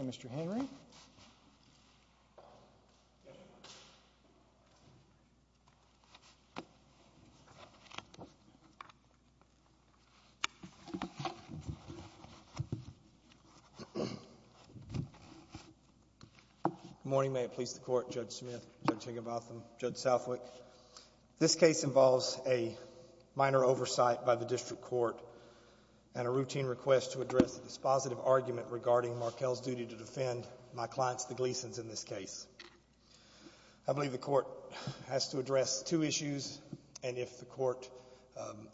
Mr. Henry. Good morning. May it please the Court, Judge Smith, Judge Higginbotham, Judge Southwick. This case involves a minor oversight by the district court and a routine request to address a dispositive argument regarding Markel's duty to defend my client's, the Gleason's, in this case. I believe the Court has to address two issues, and if the Court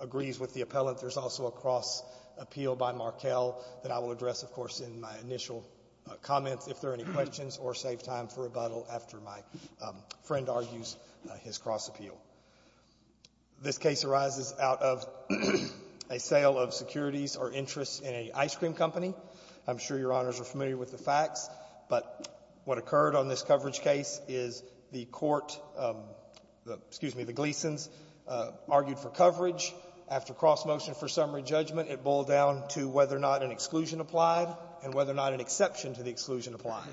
agrees with the appellant, there's also a cross-appeal by Markel that I will address, of course, in my initial comments, if there are any questions, or save time for rebuttal after my friend argues his cross-appeal. This case arises out of a sale of securities or interests in an ice cream company. I'm sure Your Honors are familiar with the facts, but what occurred on this coverage case is the court, excuse me, the Gleason's, argued for coverage. After cross-motion for summary judgment, it boiled down to whether or not an exclusion applied and whether or not an exception to the exclusion applied.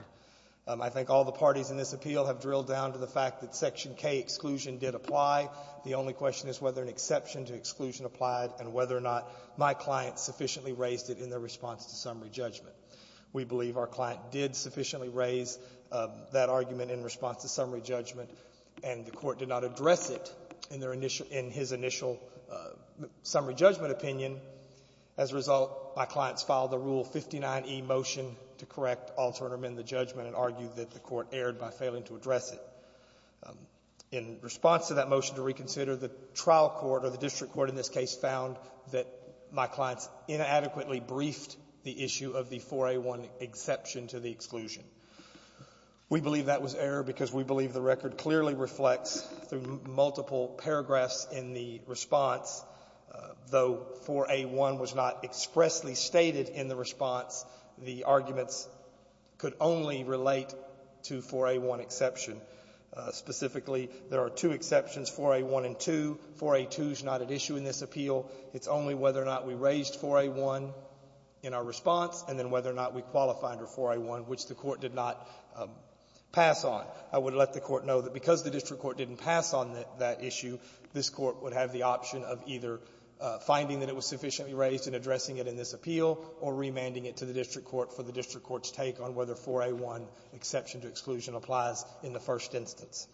I think all the parties in this appeal have drilled down to the fact that Section K exclusion did apply. The only question is whether an exception to exclusion applied and whether or not my client sufficiently raised it in their response to summary judgment. We believe our client did sufficiently raise that argument in response to summary judgment, and the Court did not address it in their initial — in his initial summary judgment opinion. As a result, my client's filed a Rule 59e motion to correct, alter, and amend the judgment and argue that the Court erred by failing to address it. In response to that motion to reconsider, the trial court, or the district court in this case, found that my client inadequately briefed the issue of the 4A1 exception to the exclusion. We believe that was error because we believe the record clearly reflects, through multiple paragraphs in the response, though 4A1 was not expressly stated in the response, the arguments could only relate to 4A1 exception. Specifically, there are two exceptions, 4A1 and 2. 4A2 is not at issue in this appeal. It's only whether or not we raised 4A1 in our response, and then whether or not we qualified for 4A1, which the Court did not pass on. I would let the Court know that because the district court didn't pass on that issue, this Court would have the option of either finding that it was sufficiently raised and addressing it in this appeal, or remanding it to the district court for the district court's take on whether 4A1 exception to exclusion applies in the first instance.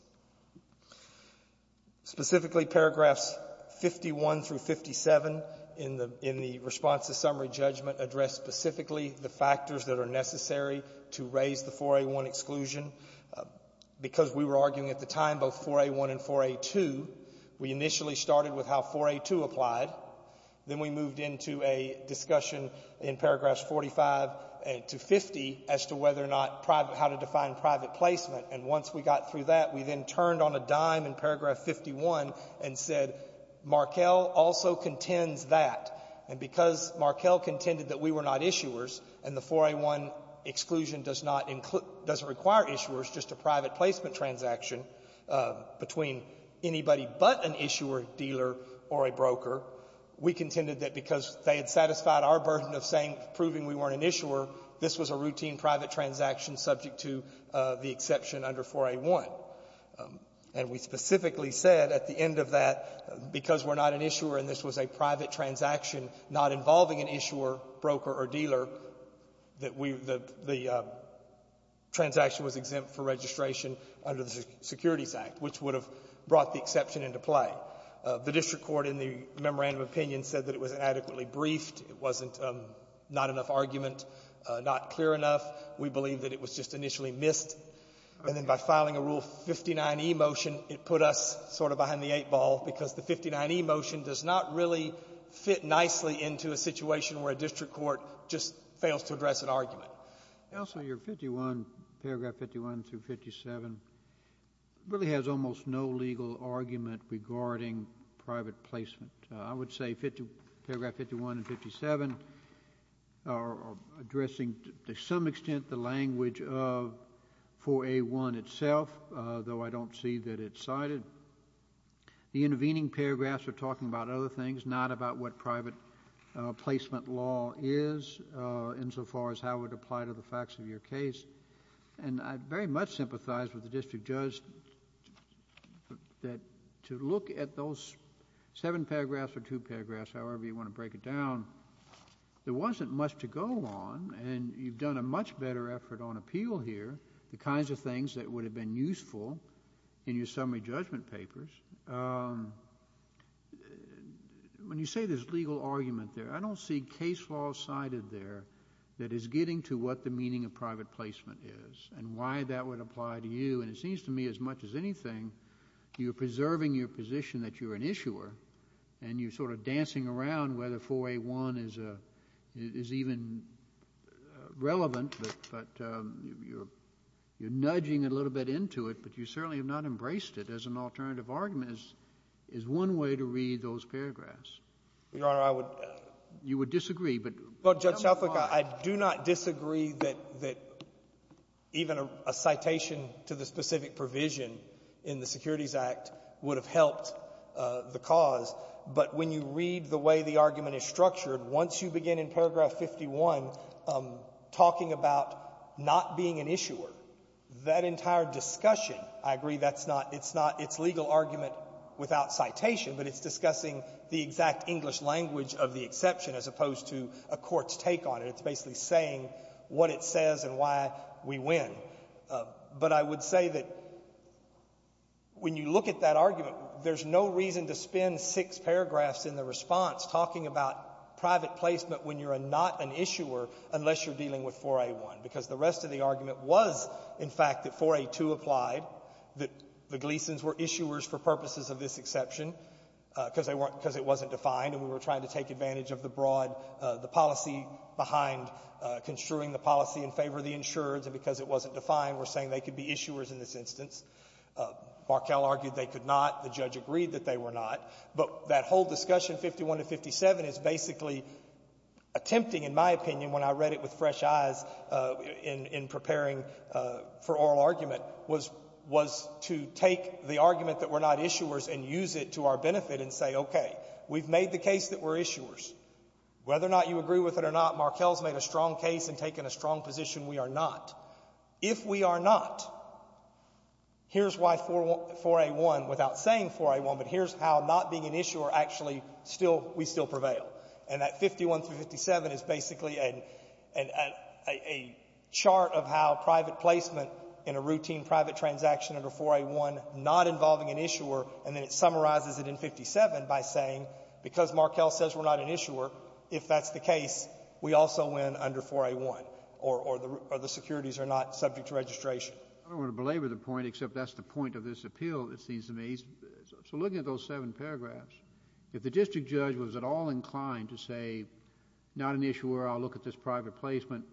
Specifically, paragraphs 51 through 57 in the response to summary judgment address specifically the factors that are necessary to raise the 4A1 exclusion. Because we were arguing at the time both 4A1 and 4A2, we initially started with how 4A2 applied. Then we moved into a discussion in paragraphs 45 to 50 as to whether or not private placement, and once we got through that, we then turned on a dime in paragraph 51 and said Markell also contends that. And because Markell contended that we were not issuers, and the 4A1 exclusion does not include — doesn't require issuers, just a private placement transaction between anybody but an issuer, dealer, or a broker, we contended that because they had satisfied our burden of saying — proving we weren't an issuer, this was a routine private transaction subject to the exception under 4A1. And we specifically said at the end of that, because we're not an issuer and this was a private transaction not involving an issuer, broker, or dealer, that we — that the transaction was exempt for registration under the Securities Act, which would have brought the exception into play. The district court in the memorandum of opinion said that it was inadequately briefed. It wasn't — not enough argument, not clear enough. We believe that it was just initially missed. And then by filing a Rule 59e motion, it put us sort of behind the eight ball, because the 59e motion does not really fit nicely into a situation where a district court just fails to address an argument. Counsel, your 51, paragraph 51 through 57, really has almost no legal argument regarding private placement. I would say paragraph 51 and 57 are addressing to some extent the language of 4A1 itself, though I don't see that it's cited. The intervening paragraphs are talking about other things, not about what private placement law is insofar as how it would apply to the facts of your case. And I very much sympathize with the district judge that to look at those seven paragraphs or two paragraphs, however you want to break it down, there wasn't much to go on, and you've done a much better effort on appeal here, the kinds of things that would have been useful in your summary judgment papers. When you say there's legal argument there, I don't see case law cited there that is getting to what the meaning of private placement is and why that would apply to you. And it seems to me, as much as anything, you're preserving your position that you're an issuer, and you're sort of dancing around whether 4A1 is even relevant, but you're nudging a little bit into it, but you certainly have not embraced it as an alternative argument, is one way to read those paragraphs. Your Honor, I would — You would disagree, but — Well, Judge Shelfrick, I do not disagree that even a citation to the specific provision in the Securities Act would have helped the cause. But when you read the way the argument is structured, once you begin in paragraph 51 talking about not being an issuer, that entire discussion, I agree, that's not — it's not — it's legal argument without citation, but it's discussing the exact English language of the exception as opposed to a court's take on it. It's basically saying what it says and why we win. But I would say that when you look at that argument, there's no reason to spend six paragraphs in the response talking about private placement when you're not an issuer unless you're dealing with 4A1, because the rest of the argument was, in fact, that 4A2 applied, that the Gleasons were issuers for purposes of this exception, because they weren't — because it wasn't defined, and we were trying to take advantage of the broad — the policy behind construing the policy in favor of the insurers, and because it wasn't defined, we're saying they could be issuers in this instance. Markell argued they could not. The judge agreed that they were not. But that whole discussion, 51 and 57, is basically attempting, in my opinion, when I read it with fresh eyes in — in preparing for oral argument, was — was to take the argument that we're not issuers and use it to our benefit and say, okay, we've made the case that we're issuers. Whether or not you agree with it or not, Markell's made a strong case and taken a strong position. We are not. If we are not, here's why 4A1 — without saying 4A1, but here's how not being an issuer actually still — we still prevail. And that 51 through 57 is basically a — a chart of how private placement in a routine private transaction under 4A1, not involving an issuer, and then it summarizes it in 57 by saying, because Markell says we're not an issuer, if that's the case, we also win under 4A1, or — or the securities are not subject to registration. I don't want to belabor the point, except that's the point of this appeal, it seems to me. So looking at those seven paragraphs, if the district judge was at all inclined to say, not an issuer, I'll look at this private placement,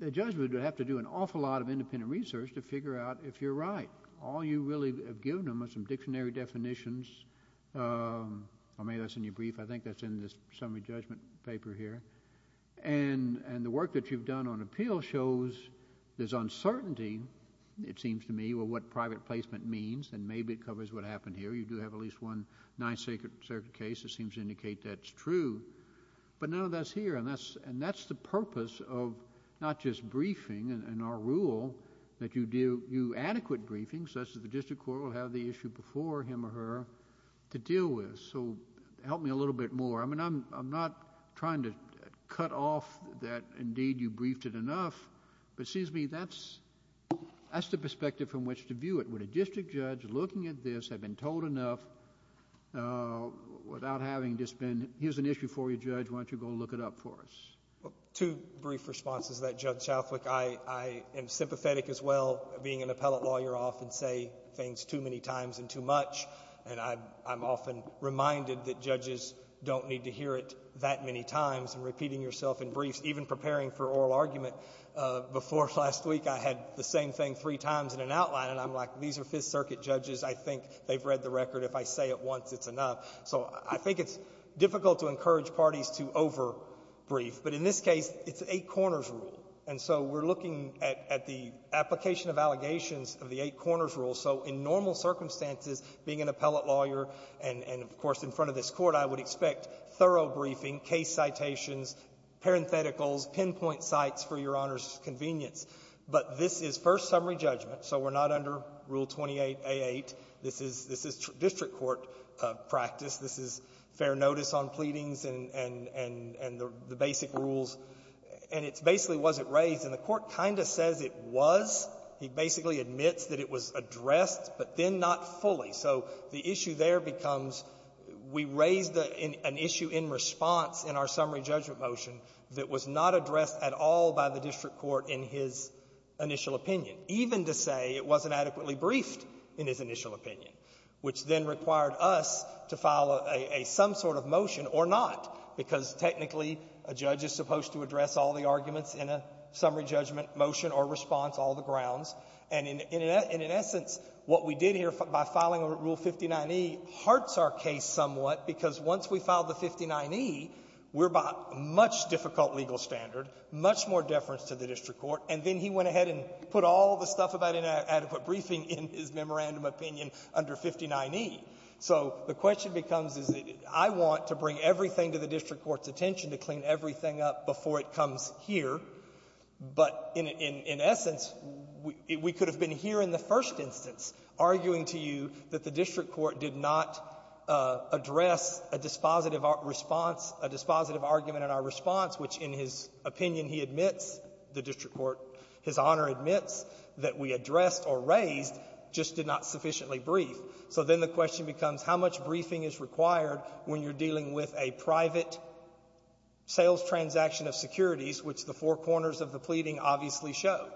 the judge would have to do an awful lot of independent research to figure out if you're right. All you really have given them are some dictionary definitions. I mean, that's in your brief, I think that's in this summary judgment paper here. And — and the work that you've done on appeal shows there's uncertainty, it seems to me, of what private placement means, and maybe it covers what happened here. You do have at least one Ninth Circuit case that seems to indicate that's true. But none of that's here, and that's — and that's the purpose of not just briefing, and our rule that you do adequate briefings, such that the district court will have the issue before him or her to deal with. So help me a little bit more. I mean, I'm — I'm not trying to cut off that, indeed, you briefed it enough, but it seems to me that's — that's the perspective from which to view it. Would a district judge, looking at this, have been told enough without having just been — here's an issue for you, Judge, why don't you go look it up for us? Two brief responses to that, Judge Shaflik. I — I am sympathetic as well. Being an appellate lawyer, I often say things too many times and too much, and I'm often reminded that judges don't need to hear it that many times, and repeating yourself in briefs, even preparing for oral argument before last week, I had the same thing three times in an outline, and I'm like, these are Fifth Circuit judges. I think they've read the record. If I say it once, it's enough. So I think it's difficult to encourage parties to over-brief, but in this case, it's an Eight Corners rule, and so we're looking at — at the application of allegations of the Eight Corners rule. So in normal circumstances, being an appellate lawyer, and — and, of course, in front of this Court, I would expect thorough briefing, case citations, parentheticals, pinpoint sites for Your Honor's convenience. But this is first summary judgment, so we're not under Rule 28a8. This is — this is district court practice. This is fair notice on pleadings and — and — and the basic rules, and it's basically was it raised, and the Court kind of says it was. He basically admits that it was addressed, but then not fully. So the issue there becomes we raised an issue in response in our summary judgment motion that was not addressed at all by the district court in his initial opinion, even to say it wasn't adequately briefed in his initial opinion, which then required us to file a — a some sort of motion or not, because technically, a judge is supposed to address all the arguments in a summary judgment motion or response, all the grounds. And in — and in essence, what we did here by filing a Rule 59e harts our case somewhat, because once we filed the 59e, we're by a much difficult legal standard, much more difficult in reference to the district court. And then he went ahead and put all the stuff about inadequate briefing in his memorandum opinion under 59e. So the question becomes, is it — I want to bring everything to the district court's attention to clean everything up before it comes here, but in — in essence, we could have been here in the first instance arguing to you that the district court did not address a dispositive response, a dispositive argument in our response, which, in his opinion, he admits, the district court, His Honor admits, that we addressed or raised, just did not sufficiently brief. So then the question becomes, how much briefing is required when you're dealing with a private sales transaction of securities, which the four corners of the pleading obviously show,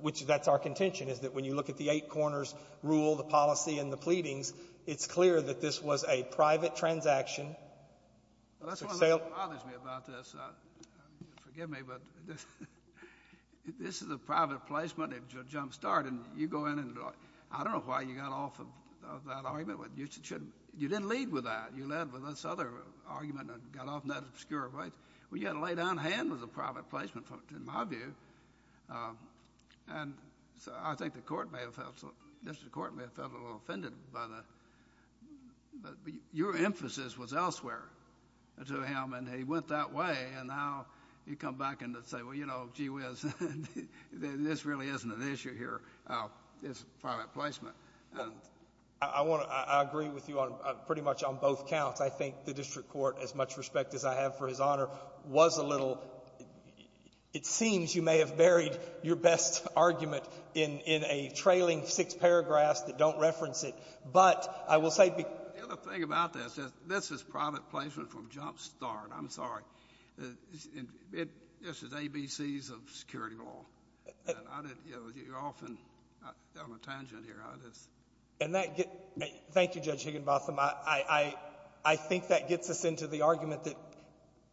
which that's our contention, is that when you look at the eight-corners rule, the policy, and the pleadings, it's clear that this was a private transaction. Well, that's one of the things that bothers me about this. Forgive me, but this is a private placement. It's a jumpstart, and you go in and — I don't know why you got off of that argument. You didn't lead with that. You led with this other argument and got off in that obscure place. Well, you had to lay down hand with the private placement, in my view. And so I think the court may have felt — the district court may have felt a little elsewhere to him, and he went that way, and now you come back and say, well, you know, gee whiz, this really isn't an issue here. It's a private placement. I want to — I agree with you on — pretty much on both counts. I think the district court, as much respect as I have for His Honor, was a little — it seems you may have buried your best argument in a trailing six paragraphs that don't reference it. But I will say — The other thing about this is this is private placement from jumpstart. I'm sorry. This is ABCs of security law. And I didn't — you're off on a tangent here on this. And that — thank you, Judge Higginbotham. I think that gets us into the argument that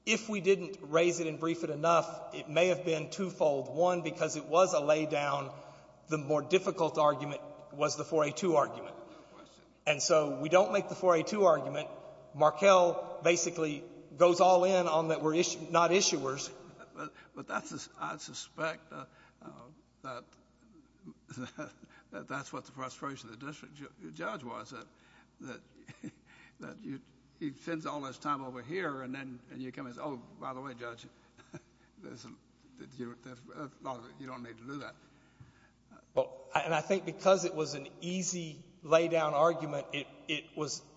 if we didn't raise it and brief it enough, it may have been twofold. One, because it was a laydown, the more difficult argument was the 4A2 argument. And so we don't make the 4A2 argument. Markell basically goes all in on that we're not issuers. But that's — I suspect that that's what the frustration of the district judge was, that he spends all his time over here, and then you come and say, oh, by the way, Judge, there's a lot of — you don't need to do that. Well, and I think because it was an easy laydown argument, it was —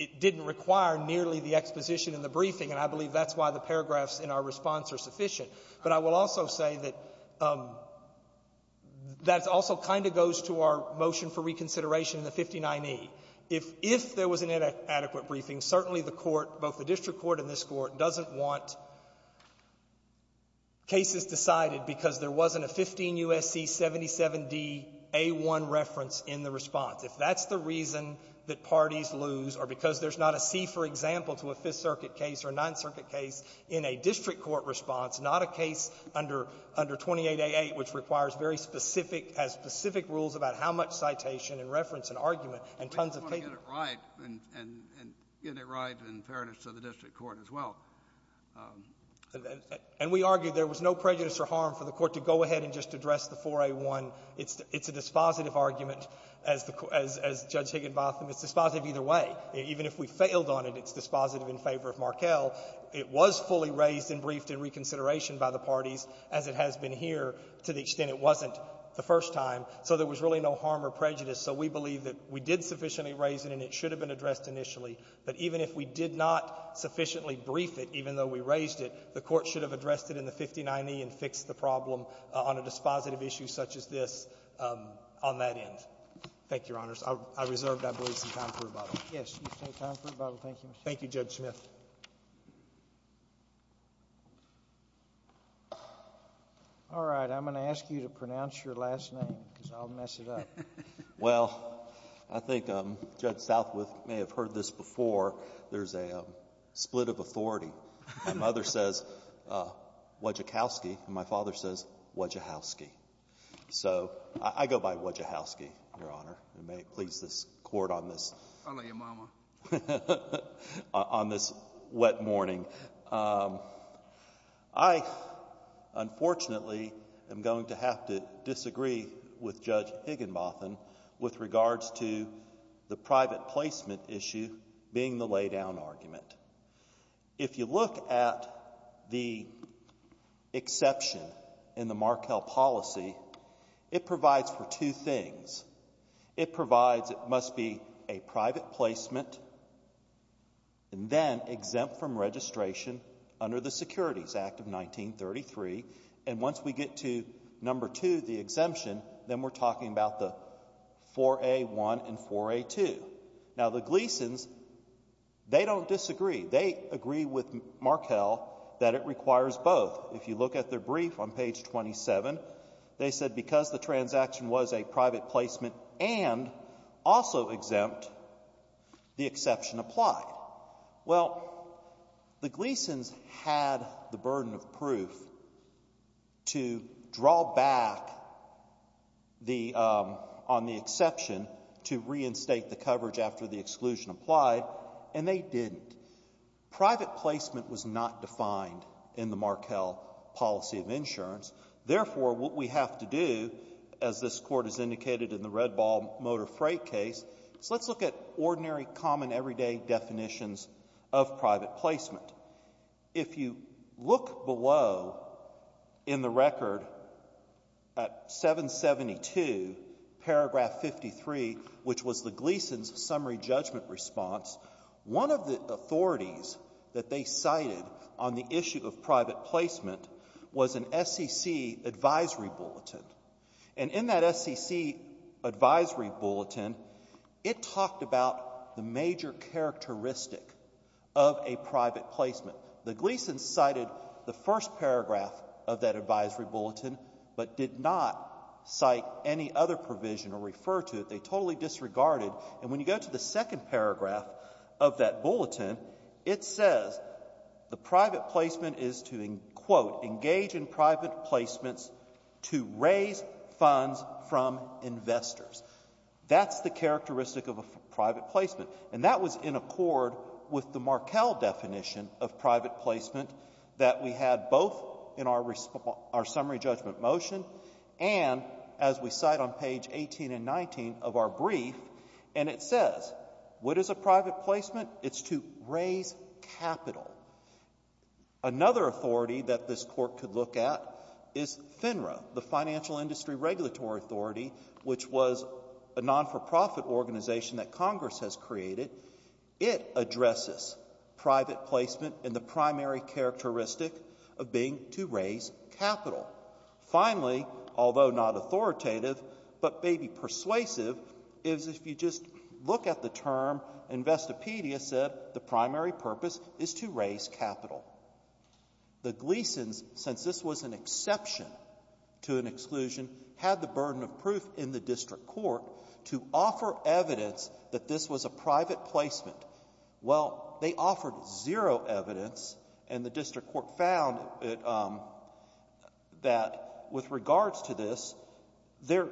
it didn't require nearly the exposition in the briefing, and I believe that's why the paragraphs in our response are sufficient. But I will also say that that also kind of goes to our motion for reconsideration in the 59E. If there was an inadequate briefing, certainly the Court, both the district court and this Court, doesn't want cases decided because there wasn't a 15 U.S.C. 77dA1 reference in the response. If that's the reason that parties lose, or because there's not a C, for example, to a Fifth Circuit case or a Ninth Circuit case in a district court response, not a case under — under 28A8, which requires very specific — has specific rules about how much citation and reference and argument and tons of — get it right and — and get it right in fairness to the district court as well. And we argue there was no prejudice or harm for the Court to go ahead and just address the 4A1. It's a dispositive argument, as the — as Judge Higginbotham. It's dispositive either way. Even if we failed on it, it's dispositive in favor of Markell. It was fully raised and briefed in reconsideration by the parties, as it has been here, to the extent it wasn't the first time. So there was really no harm or prejudice. So we believe that we did sufficiently raise it, and it should have been addressed initially. But even if we did not sufficiently brief it, even though we raised it, the Court should have addressed it in the 59E and fixed the problem on a dispositive issue such as this on that end. Thank you, Your Honors. I reserve, I believe, some time for rebuttal. Yes. You have time for rebuttal. Thank you, Mr. Chief. Thank you, Judge Smith. All right. I'm going to ask you to pronounce your last name, because I'll mess it up. Well, I think Judge Southwith may have heard this before. There's a split of authority. My mother says Wodzikowski, and my father says Wodzihowski. So I go by Wodzihowski, Your Honor. It may please this Court on this wet morning. I, unfortunately, am going to have to disagree with Judge Higginbotham with regards to the private placement issue being the laydown argument. If you look at the exception in the Markell policy, it provides for two things. It provides it must be a private placement and then exempt from registration under the Securities Act of 1933. And once we get to number two, the exemption, then we're talking about the 4A1 and 4A2. Now, the Gleasons, they don't disagree. They agree with Markell that it requires both. If you look at their brief on page 27, they said because the transaction was a private placement and also exempt, the exception applied. Well, the Gleasons had the burden of proof to draw back the — on the exception to reinstate the coverage after the exclusion applied, and they didn't. Private placement was not defined in the Markell policy of insurance. Therefore, what we have to do, as this Court has indicated in the Red Ball motor freight case, is let's look at ordinary, common, everyday definitions of private placement. If you look below in the record at 772, paragraph 53, which was the Gleasons' summary judgment response, one of the authorities that they cited on the issue of private placement was an SEC advisory bulletin. And in that SEC advisory bulletin, it talked about the major characteristic of a private placement. The Gleasons cited the first paragraph of that advisory bulletin, but did not cite any other provision or refer to it. They totally disregarded. And when you go to the second paragraph of that bulletin, it says the private placement is to, quote, engage in private placements to raise funds from investors. That's the characteristic of a private placement. And that was in accord with the Markell definition of private placement that we had both in our summary judgment motion and, as we cite on page 18 and 19 of our brief, and it says, what is a private placement? It's to raise capital. Another authority that this Court could look at is FINRA, the Financial Industry Regulatory Authority, which was a non-for-profit organization that Congress has created. It addresses private placement in the primary characteristic of being to raise capital. Finally, although not authoritative, but maybe persuasive, is if you just look at the Wikipedia, it said the primary purpose is to raise capital. The Gleasons, since this was an exception to an exclusion, had the burden of proof in the district court to offer evidence that this was a private placement. Well, they offered zero evidence, and the district court found that with regards to this, there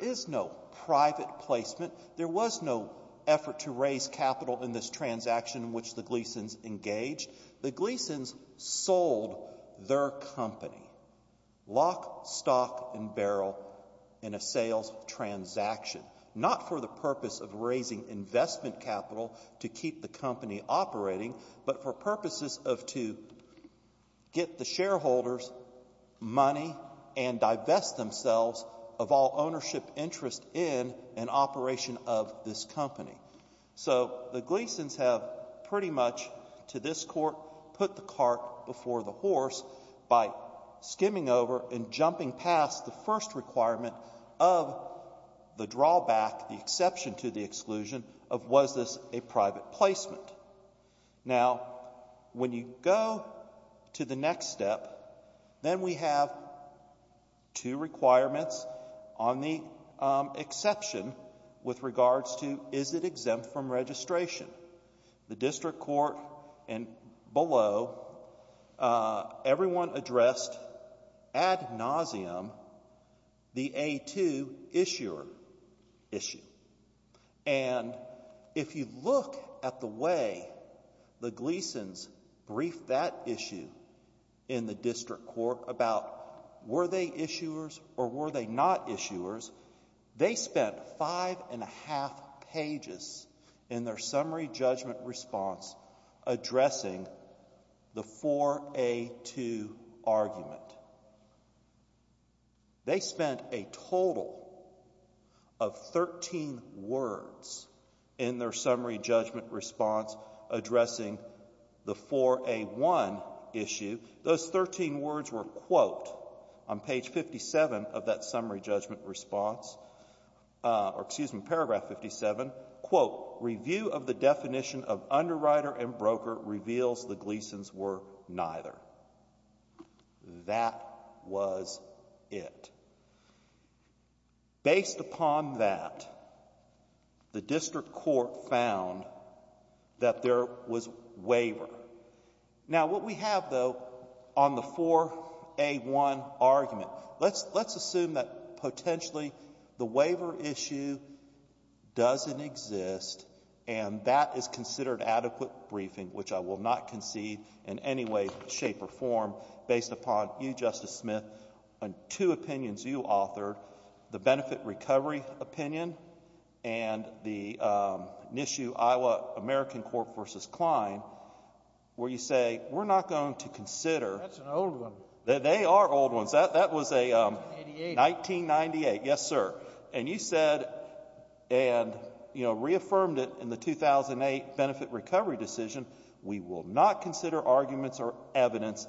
is no private placement. There was no effort to raise capital in this transaction in which the Gleasons engaged. The Gleasons sold their company, lock, stock, and barrel, in a sales transaction, not for the purpose of raising investment capital to keep the company operating, but for purposes of to get the shareholders money and divest themselves of all ownership interest in an operation of this company. So the Gleasons have pretty much, to this court, put the cart before the horse by skimming over and jumping past the first requirement of the drawback, the exception to the exclusion, of was this a private placement. Now, when you go to the next step, then we have two requirements on the right side of the exception with regards to is it exempt from registration. The district court and below, everyone addressed ad nauseum the A2 issuer issue. And if you look at the way the Gleasons briefed that issue in the district court about were they issuers or were they not issuers, they spent five and a half pages in their summary judgment response addressing the 4A2 argument. They spent a total of 13 words in their summary judgment response addressing the 4A1 issue. Those 13 words were, quote, on page 57 of that summary judgment response, or excuse me, paragraph 57, quote, review of the definition of underwriter and broker reveals the Gleasons were neither. That was it. Based upon that, the district court found that there was waiver. Now, what we have, though, on the 4A1 argument, let's assume that potentially the waiver issue doesn't exist and that is considered adequate briefing, which I will not concede in any way, shape, or form based upon you, Justice Smith, on two opinions you authored, the benefit recovery opinion and the NISU Iowa American Court v. Kline. Where you say, we're not going to consider. That's an old one. They are old ones. That was a 1998. Yes, sir. And you said and, you know, reaffirmed it in the 2008 benefit recovery decision, we will not consider arguments or evidence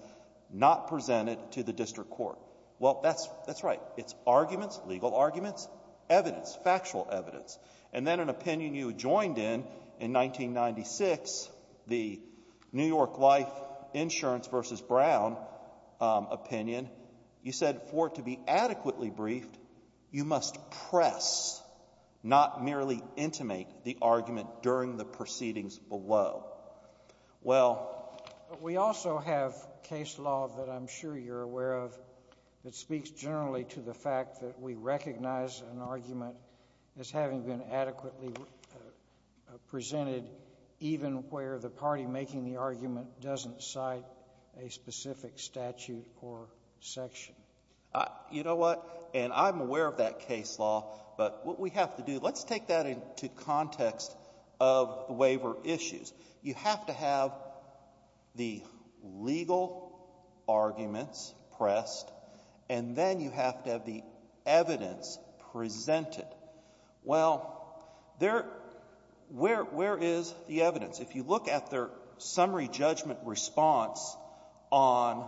not presented to the district court. Well, that's right. It's arguments, legal arguments, evidence, factual evidence. And then an opinion you joined in, in 1996, the New York Life Insurance v. Brown opinion, you said for it to be adequately briefed, you must press, not merely intimate, the argument during the proceedings below. We also have case law that I'm sure you're aware of that speaks generally to the fact that we recognize an argument as having been adequately presented even where the party making the argument doesn't cite a specific statute or section. You know what? And I'm aware of that case law. But what we have to do, let's take that into context of the waiver issues. You have to have the legal arguments pressed. And then you have to have the evidence presented. Well, there — where is the evidence? If you look at their summary judgment response on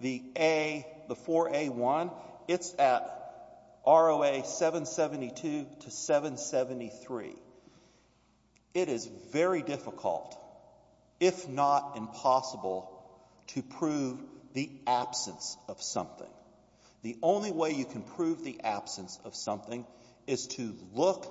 the A, the 4A1, it's at ROA 772 to 773. It is very difficult, if not impossible, to prove the absence of something. The only way you can prove the absence of something is to look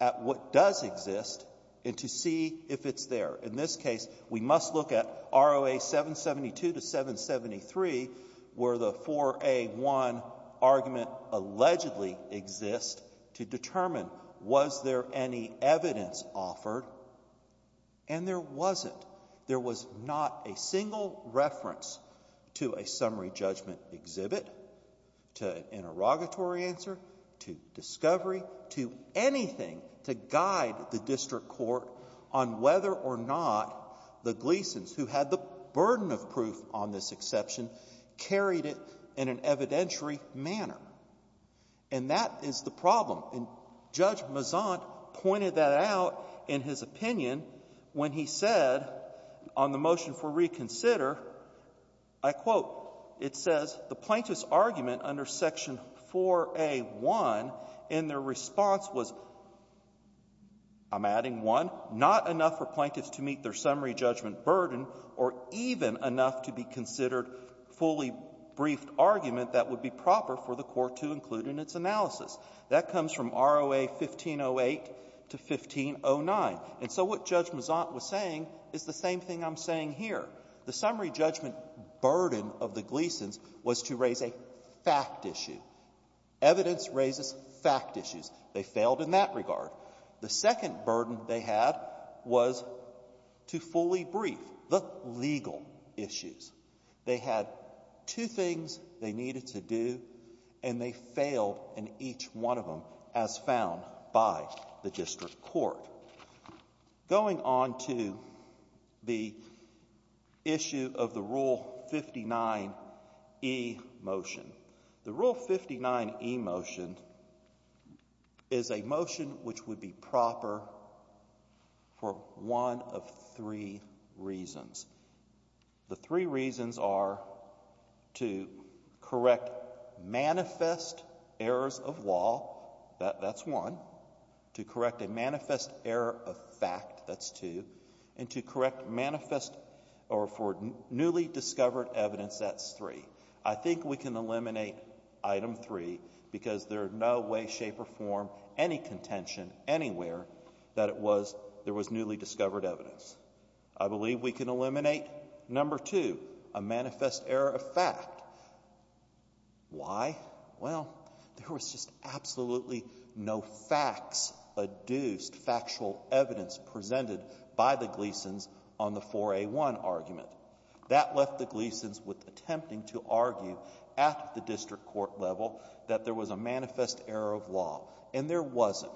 at what does exist and to see if it's there. In this case, we must look at ROA 772 to 773 where the 4A1 argument allegedly exists to determine was there any evidence offered, and there wasn't. There was not a single reference to a summary judgment exhibit, to an interrogatory answer, to discovery, to anything to guide the district court on whether or not the Gleasons who had the burden of proof on this exception carried it in an evidentiary manner. And that is the problem. And Judge Mazant pointed that out in his opinion when he said on the motion for reconsider, I quote, it says, the plaintiff's argument under Section 4A1, and their response was, I'm adding 1, not enough for plaintiffs to meet their summary judgment burden or even enough to be considered fully briefed argument that would be proper for the Gleasons from ROA 1508 to 1509. And so what Judge Mazant was saying is the same thing I'm saying here. The summary judgment burden of the Gleasons was to raise a fact issue. Evidence raises fact issues. They failed in that regard. The second burden they had was to fully brief the legal issues. They had two things they needed to do, and they failed in each one of them, as found by the district court. Going on to the issue of the Rule 59e motion. The Rule 59e motion is a motion which would be proper for one of three reasons. The three reasons are to correct manifest errors of law. That's one. To correct a manifest error of fact. That's two. And to correct manifest or for newly discovered evidence. That's three. I think we can eliminate Item 3 because there are no way, shape, or form, any contention anywhere that it was, there was newly discovered evidence. I believe we can eliminate Number 2, a manifest error of fact. Why? Well, there was just absolutely no facts-adduced factual evidence presented by the Gleasons on the 4A1 argument. That left the Gleasons with attempting to argue at the district court level that there was a manifest error of law, and there wasn't.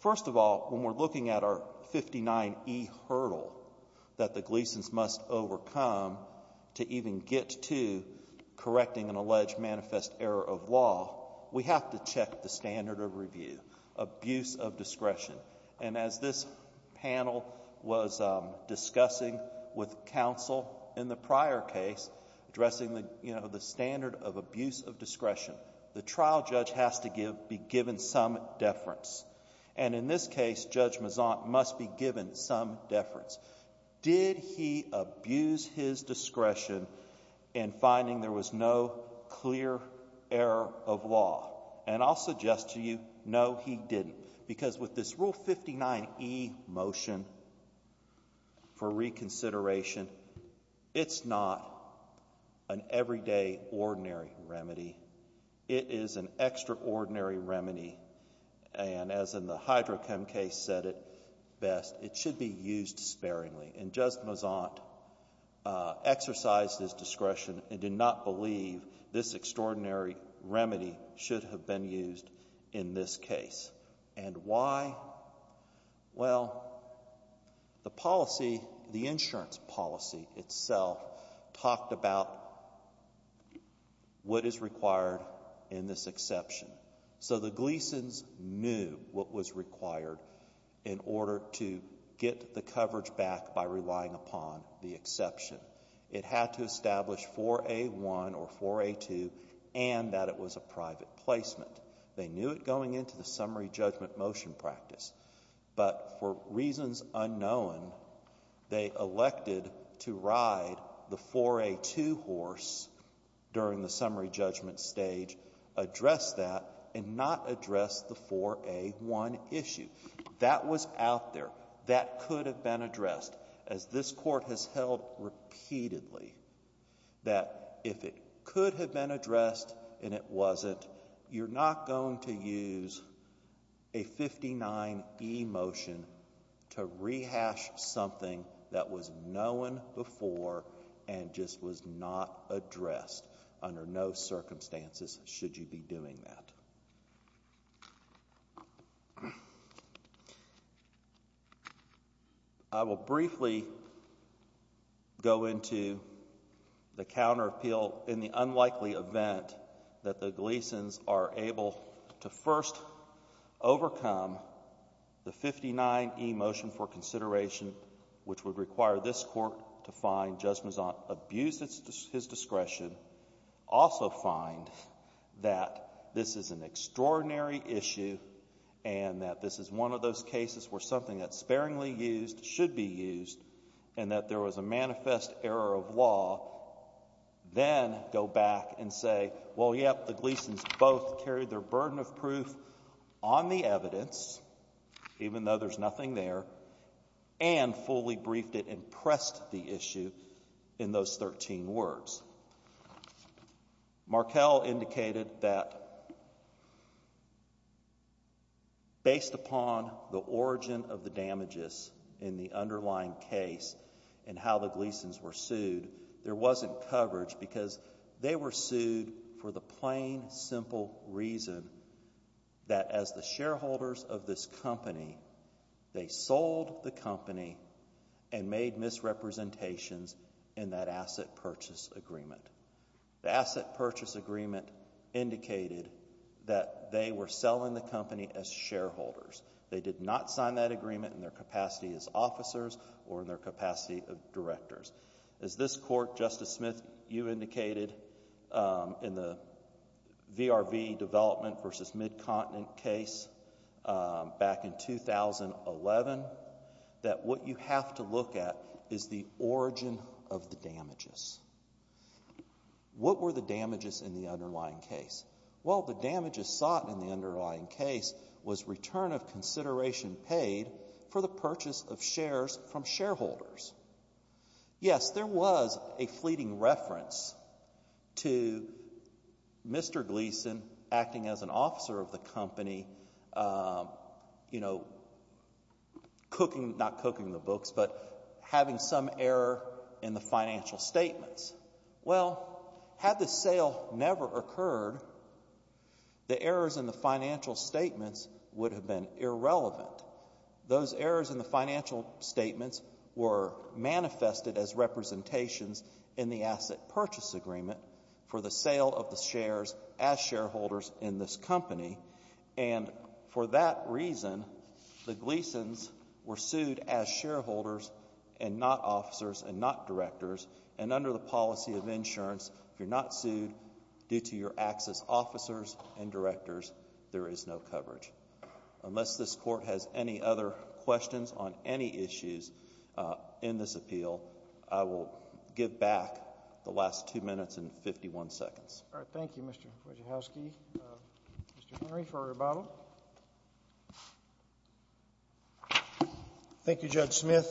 First of all, when we're looking at our 59e hurdle that the Gleasons must overcome to even get to correcting an alleged manifest error of law, we have to check the standard of review, abuse of discretion. And as this panel was discussing with counsel in the prior case, addressing the standard of abuse of discretion, the trial judge has to be given some deference. And in this case, Judge Mazant must be given some deference. Did he abuse his discretion in finding there was no clear error of law? And I'll suggest to you, no, he didn't. Because with this Rule 59e motion for reconsideration, it's not an everyday ordinary remedy. It is an extraordinary remedy. And as in the Hydrochem case said it best, it should be used sparingly. And Judge Mazant exercised his discretion and did not believe this extraordinary remedy should have been used in this case. And why? Well, the policy, the insurance policy itself talked about what is required in this exception. So the Gleasons knew what was required in order to get the coverage back by relying upon the exception. It had to establish 4A1 or 4A2 and that it was a private placement. They knew it going into the summary judgment motion practice. But for reasons unknown, they elected to ride the 4A2 horse during the summary judgment stage, address that, and not address the 4A1 issue. That was out there. That could have been addressed. As this court has held repeatedly, that if it could have been addressed and it wasn't, you're not going to use a 59e motion to rehash something that was known before and just was not addressed under no circumstances should you be doing that. I will briefly go into the counter appeal in the unlikely event that the Gleasons are able to first overcome the 59e motion for consideration, which would require this court to find Judge Mezant abused his discretion, also find that this is an extraordinary issue and that this is one of those cases where something that's sparingly used should be used and that there was a manifest error of law, then go back and say, well, yep, the Gleasons both carried their burden of proof on the evidence, even though there's nothing there, and fully briefed it and pressed the issue in those 13 words. Markell indicated that based upon the origin of the damages in the underlying case and how the Gleasons were sued, there wasn't coverage because they were sued for the plain, simple reason that as the shareholders of this company, they sold the company and made misrepresentations in that asset purchase agreement. The asset purchase agreement indicated that they were selling the company as shareholders. They did not sign that agreement in their capacity as officers or in their capacity of directors. As this court, Justice Smith, you indicated in the VRV development versus midcontinent case back in 2011, that what you have to look at is the origin of the damages. What were the damages in the underlying case? Well, the damages sought in the underlying case was return of consideration paid for the purchase of shares from shareholders. Yes, there was a fleeting reference to Mr. Gleason acting as an officer of the company, you know, cooking, not cooking the books, but having some error in the financial statements. Well, had the sale never occurred, the errors in the financial statements would have been irrelevant. Those errors in the financial statements were manifested as representations in the asset purchase agreement for the sale of the shares as shareholders in this company, and for that reason, the Gleasons were sued as shareholders and not officers and not directors, and under the policy of insurance, if you're not sued due to your acts as officers and directors, there is no coverage. Unless this Court has any other questions on any issues in this appeal, I will give back the last two minutes and 51 seconds. All right. Thank you, Mr. Wojciechowski. Mr. Henry for rebuttal. Thank you, Judge Smith.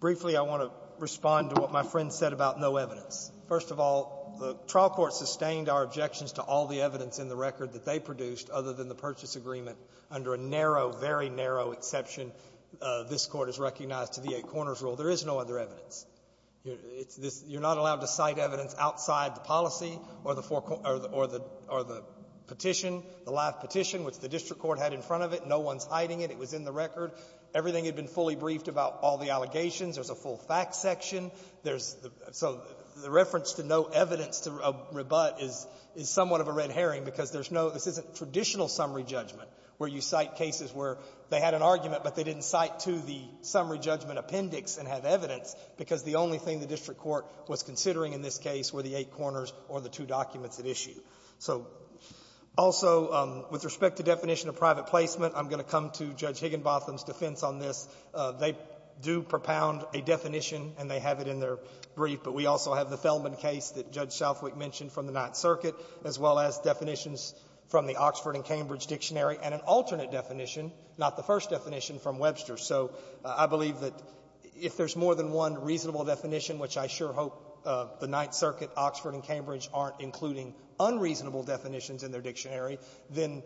Briefly, I want to respond to what my friend said about no evidence. First of all, the trial court sustained our objections to all the evidence in the record that they produced other than the purchase agreement under a narrow, very narrow exception this Court has recognized to the Eight Corners Rule. There is no other evidence. It's this you're not allowed to cite evidence outside the policy or the four or the or the petition, the live petition, which the district court had in front of it. No one's hiding it. It was in the record. Everything had been fully briefed about all the allegations. There's a full facts section. There's the so the reference to no evidence to rebut is somewhat of a red herring because there's no this isn't traditional summary judgment where you cite cases where they had an argument but they didn't cite to the summary judgment appendix and have evidence because the only thing the district court was considering in this case were the Eight Corners or the two documents at issue. So also, with respect to definition of private placement, I'm going to come to Judge Higginbotham's defense on this. They do propound a definition and they have it in their brief, but we also have the definitions from the Oxford and Cambridge Dictionary and an alternate definition, not the first definition, from Webster. So I believe that if there's more than one reasonable definition, which I sure hope the Ninth Circuit, Oxford, and Cambridge aren't including unreasonable definitions in their dictionary, then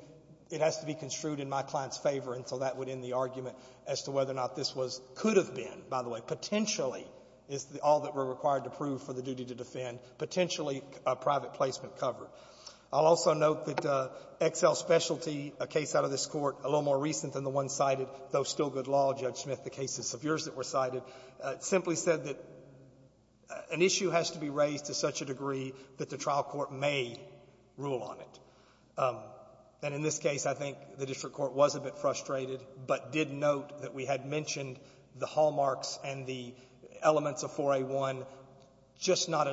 it has to be construed in my client's favor, and so that would end the argument as to whether or not this was, could have been, by the way, potentially, is all that we're required to prove for the duty to defend, potentially a private placement covered. I'll also note that Excel's specialty, a case out of this Court a little more recent than the one cited, though still good law, Judge Smith, the cases of yours that were cited, simply said that an issue has to be raised to such a degree that the trial court may rule on it. And in this case, I think the district court was a bit frustrated but did note that we had mentioned the hallmarks and the elements of 4A1, just not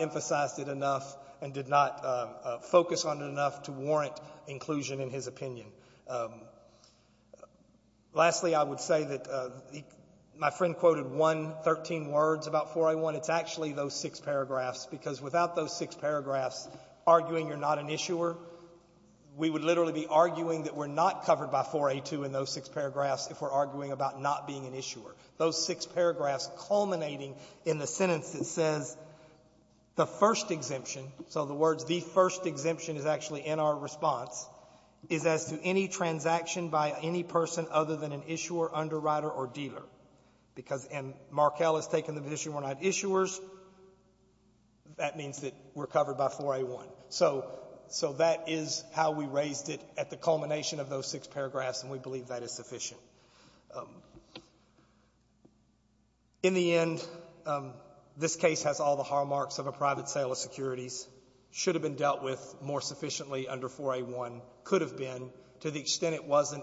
emphasized it enough and did not focus on it enough to warrant inclusion in his opinion. Lastly, I would say that my friend quoted one, 13 words about 4A1. It's actually those six paragraphs, because without those six paragraphs arguing you're not an issuer, we would literally be arguing that we're not covered by 4A2 in those six paragraphs if we're arguing about not being an issuer. Those six paragraphs culminating in the sentence that says, the first exemption, so the words, the first exemption is actually in our response, is as to any transaction by any person other than an issuer, underwriter, or dealer. Because, and Markell has taken the position we're not issuers. That means that we're covered by 4A1. So, so that is how we raised it at the culmination of those six paragraphs, and we believe that is sufficient. In the end, this case has all the hallmarks of a private sale of securities. Should have been dealt with more sufficiently under 4A1, could have been, to the extent it wasn't,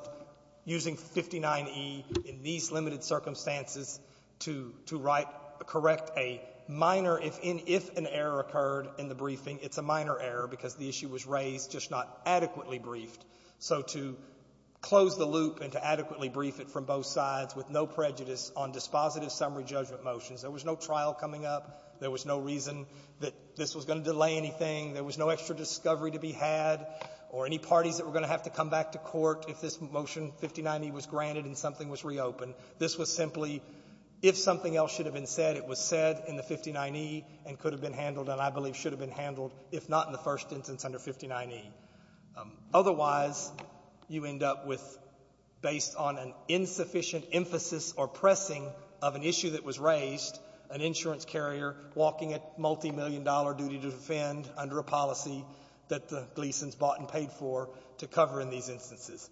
using 59e in these limited circumstances to, to write, correct a minor, if in, if an error occurred in the briefing. It's a minor error because the issue was raised, just not adequately briefed. So to close the loop and to adequately brief it from both sides with no prejudice on dispositive summary judgment motions, there was no trial coming up, there was no reason that this was going to delay anything, there was no extra discovery to be had, or any parties that were going to have to come back to court if this motion 59e was granted and something was reopened. This was simply, if something else should have been said, it was said in the 59e and could have been handled, and I believe should have been handled, if not in the first instance under 59e. Otherwise, you end up with, based on an insufficient emphasis or pressing of an issue that was raised, an insurance carrier walking at multimillion-dollar duty to defend under a policy that the Gleasons bought and paid for to cover in these instances.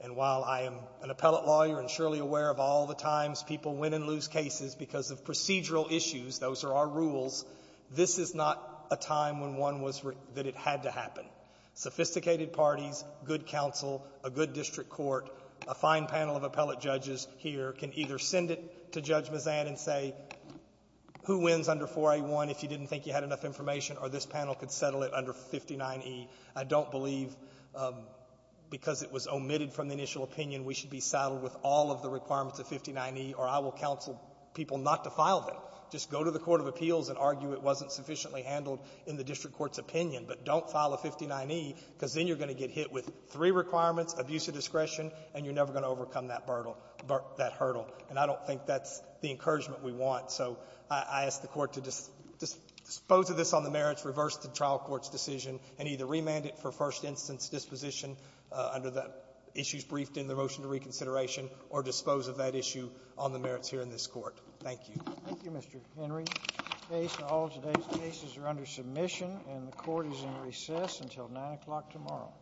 And while I am an appellate lawyer and surely aware of all the times people win and procedural issues, those are our rules, this is not a time when one was that it had to happen. Sophisticated parties, good counsel, a good district court, a fine panel of appellate judges here can either send it to Judge Mazan and say, who wins under 481 if you didn't think you had enough information, or this panel could settle it under 59e. I don't believe, because it was omitted from the initial opinion, we should be saddled with all of the requirements of 59e, or I will counsel people not to file them. Just go to the court of appeals and argue it wasn't sufficiently handled in the district court's opinion, but don't file a 59e because then you're going to get hit with three requirements, abuse of discretion, and you're never going to overcome that hurdle. And I don't think that's the encouragement we want. So I ask the Court to dispose of this on the merits, reverse the trial court's decision, and either remand it for discretion or dispose of that issue on the merits here in this Court. Thank you. Thank you, Mr. Henry. The case, all today's cases are under submission, and the Court is in recess until 9 o'clock tomorrow.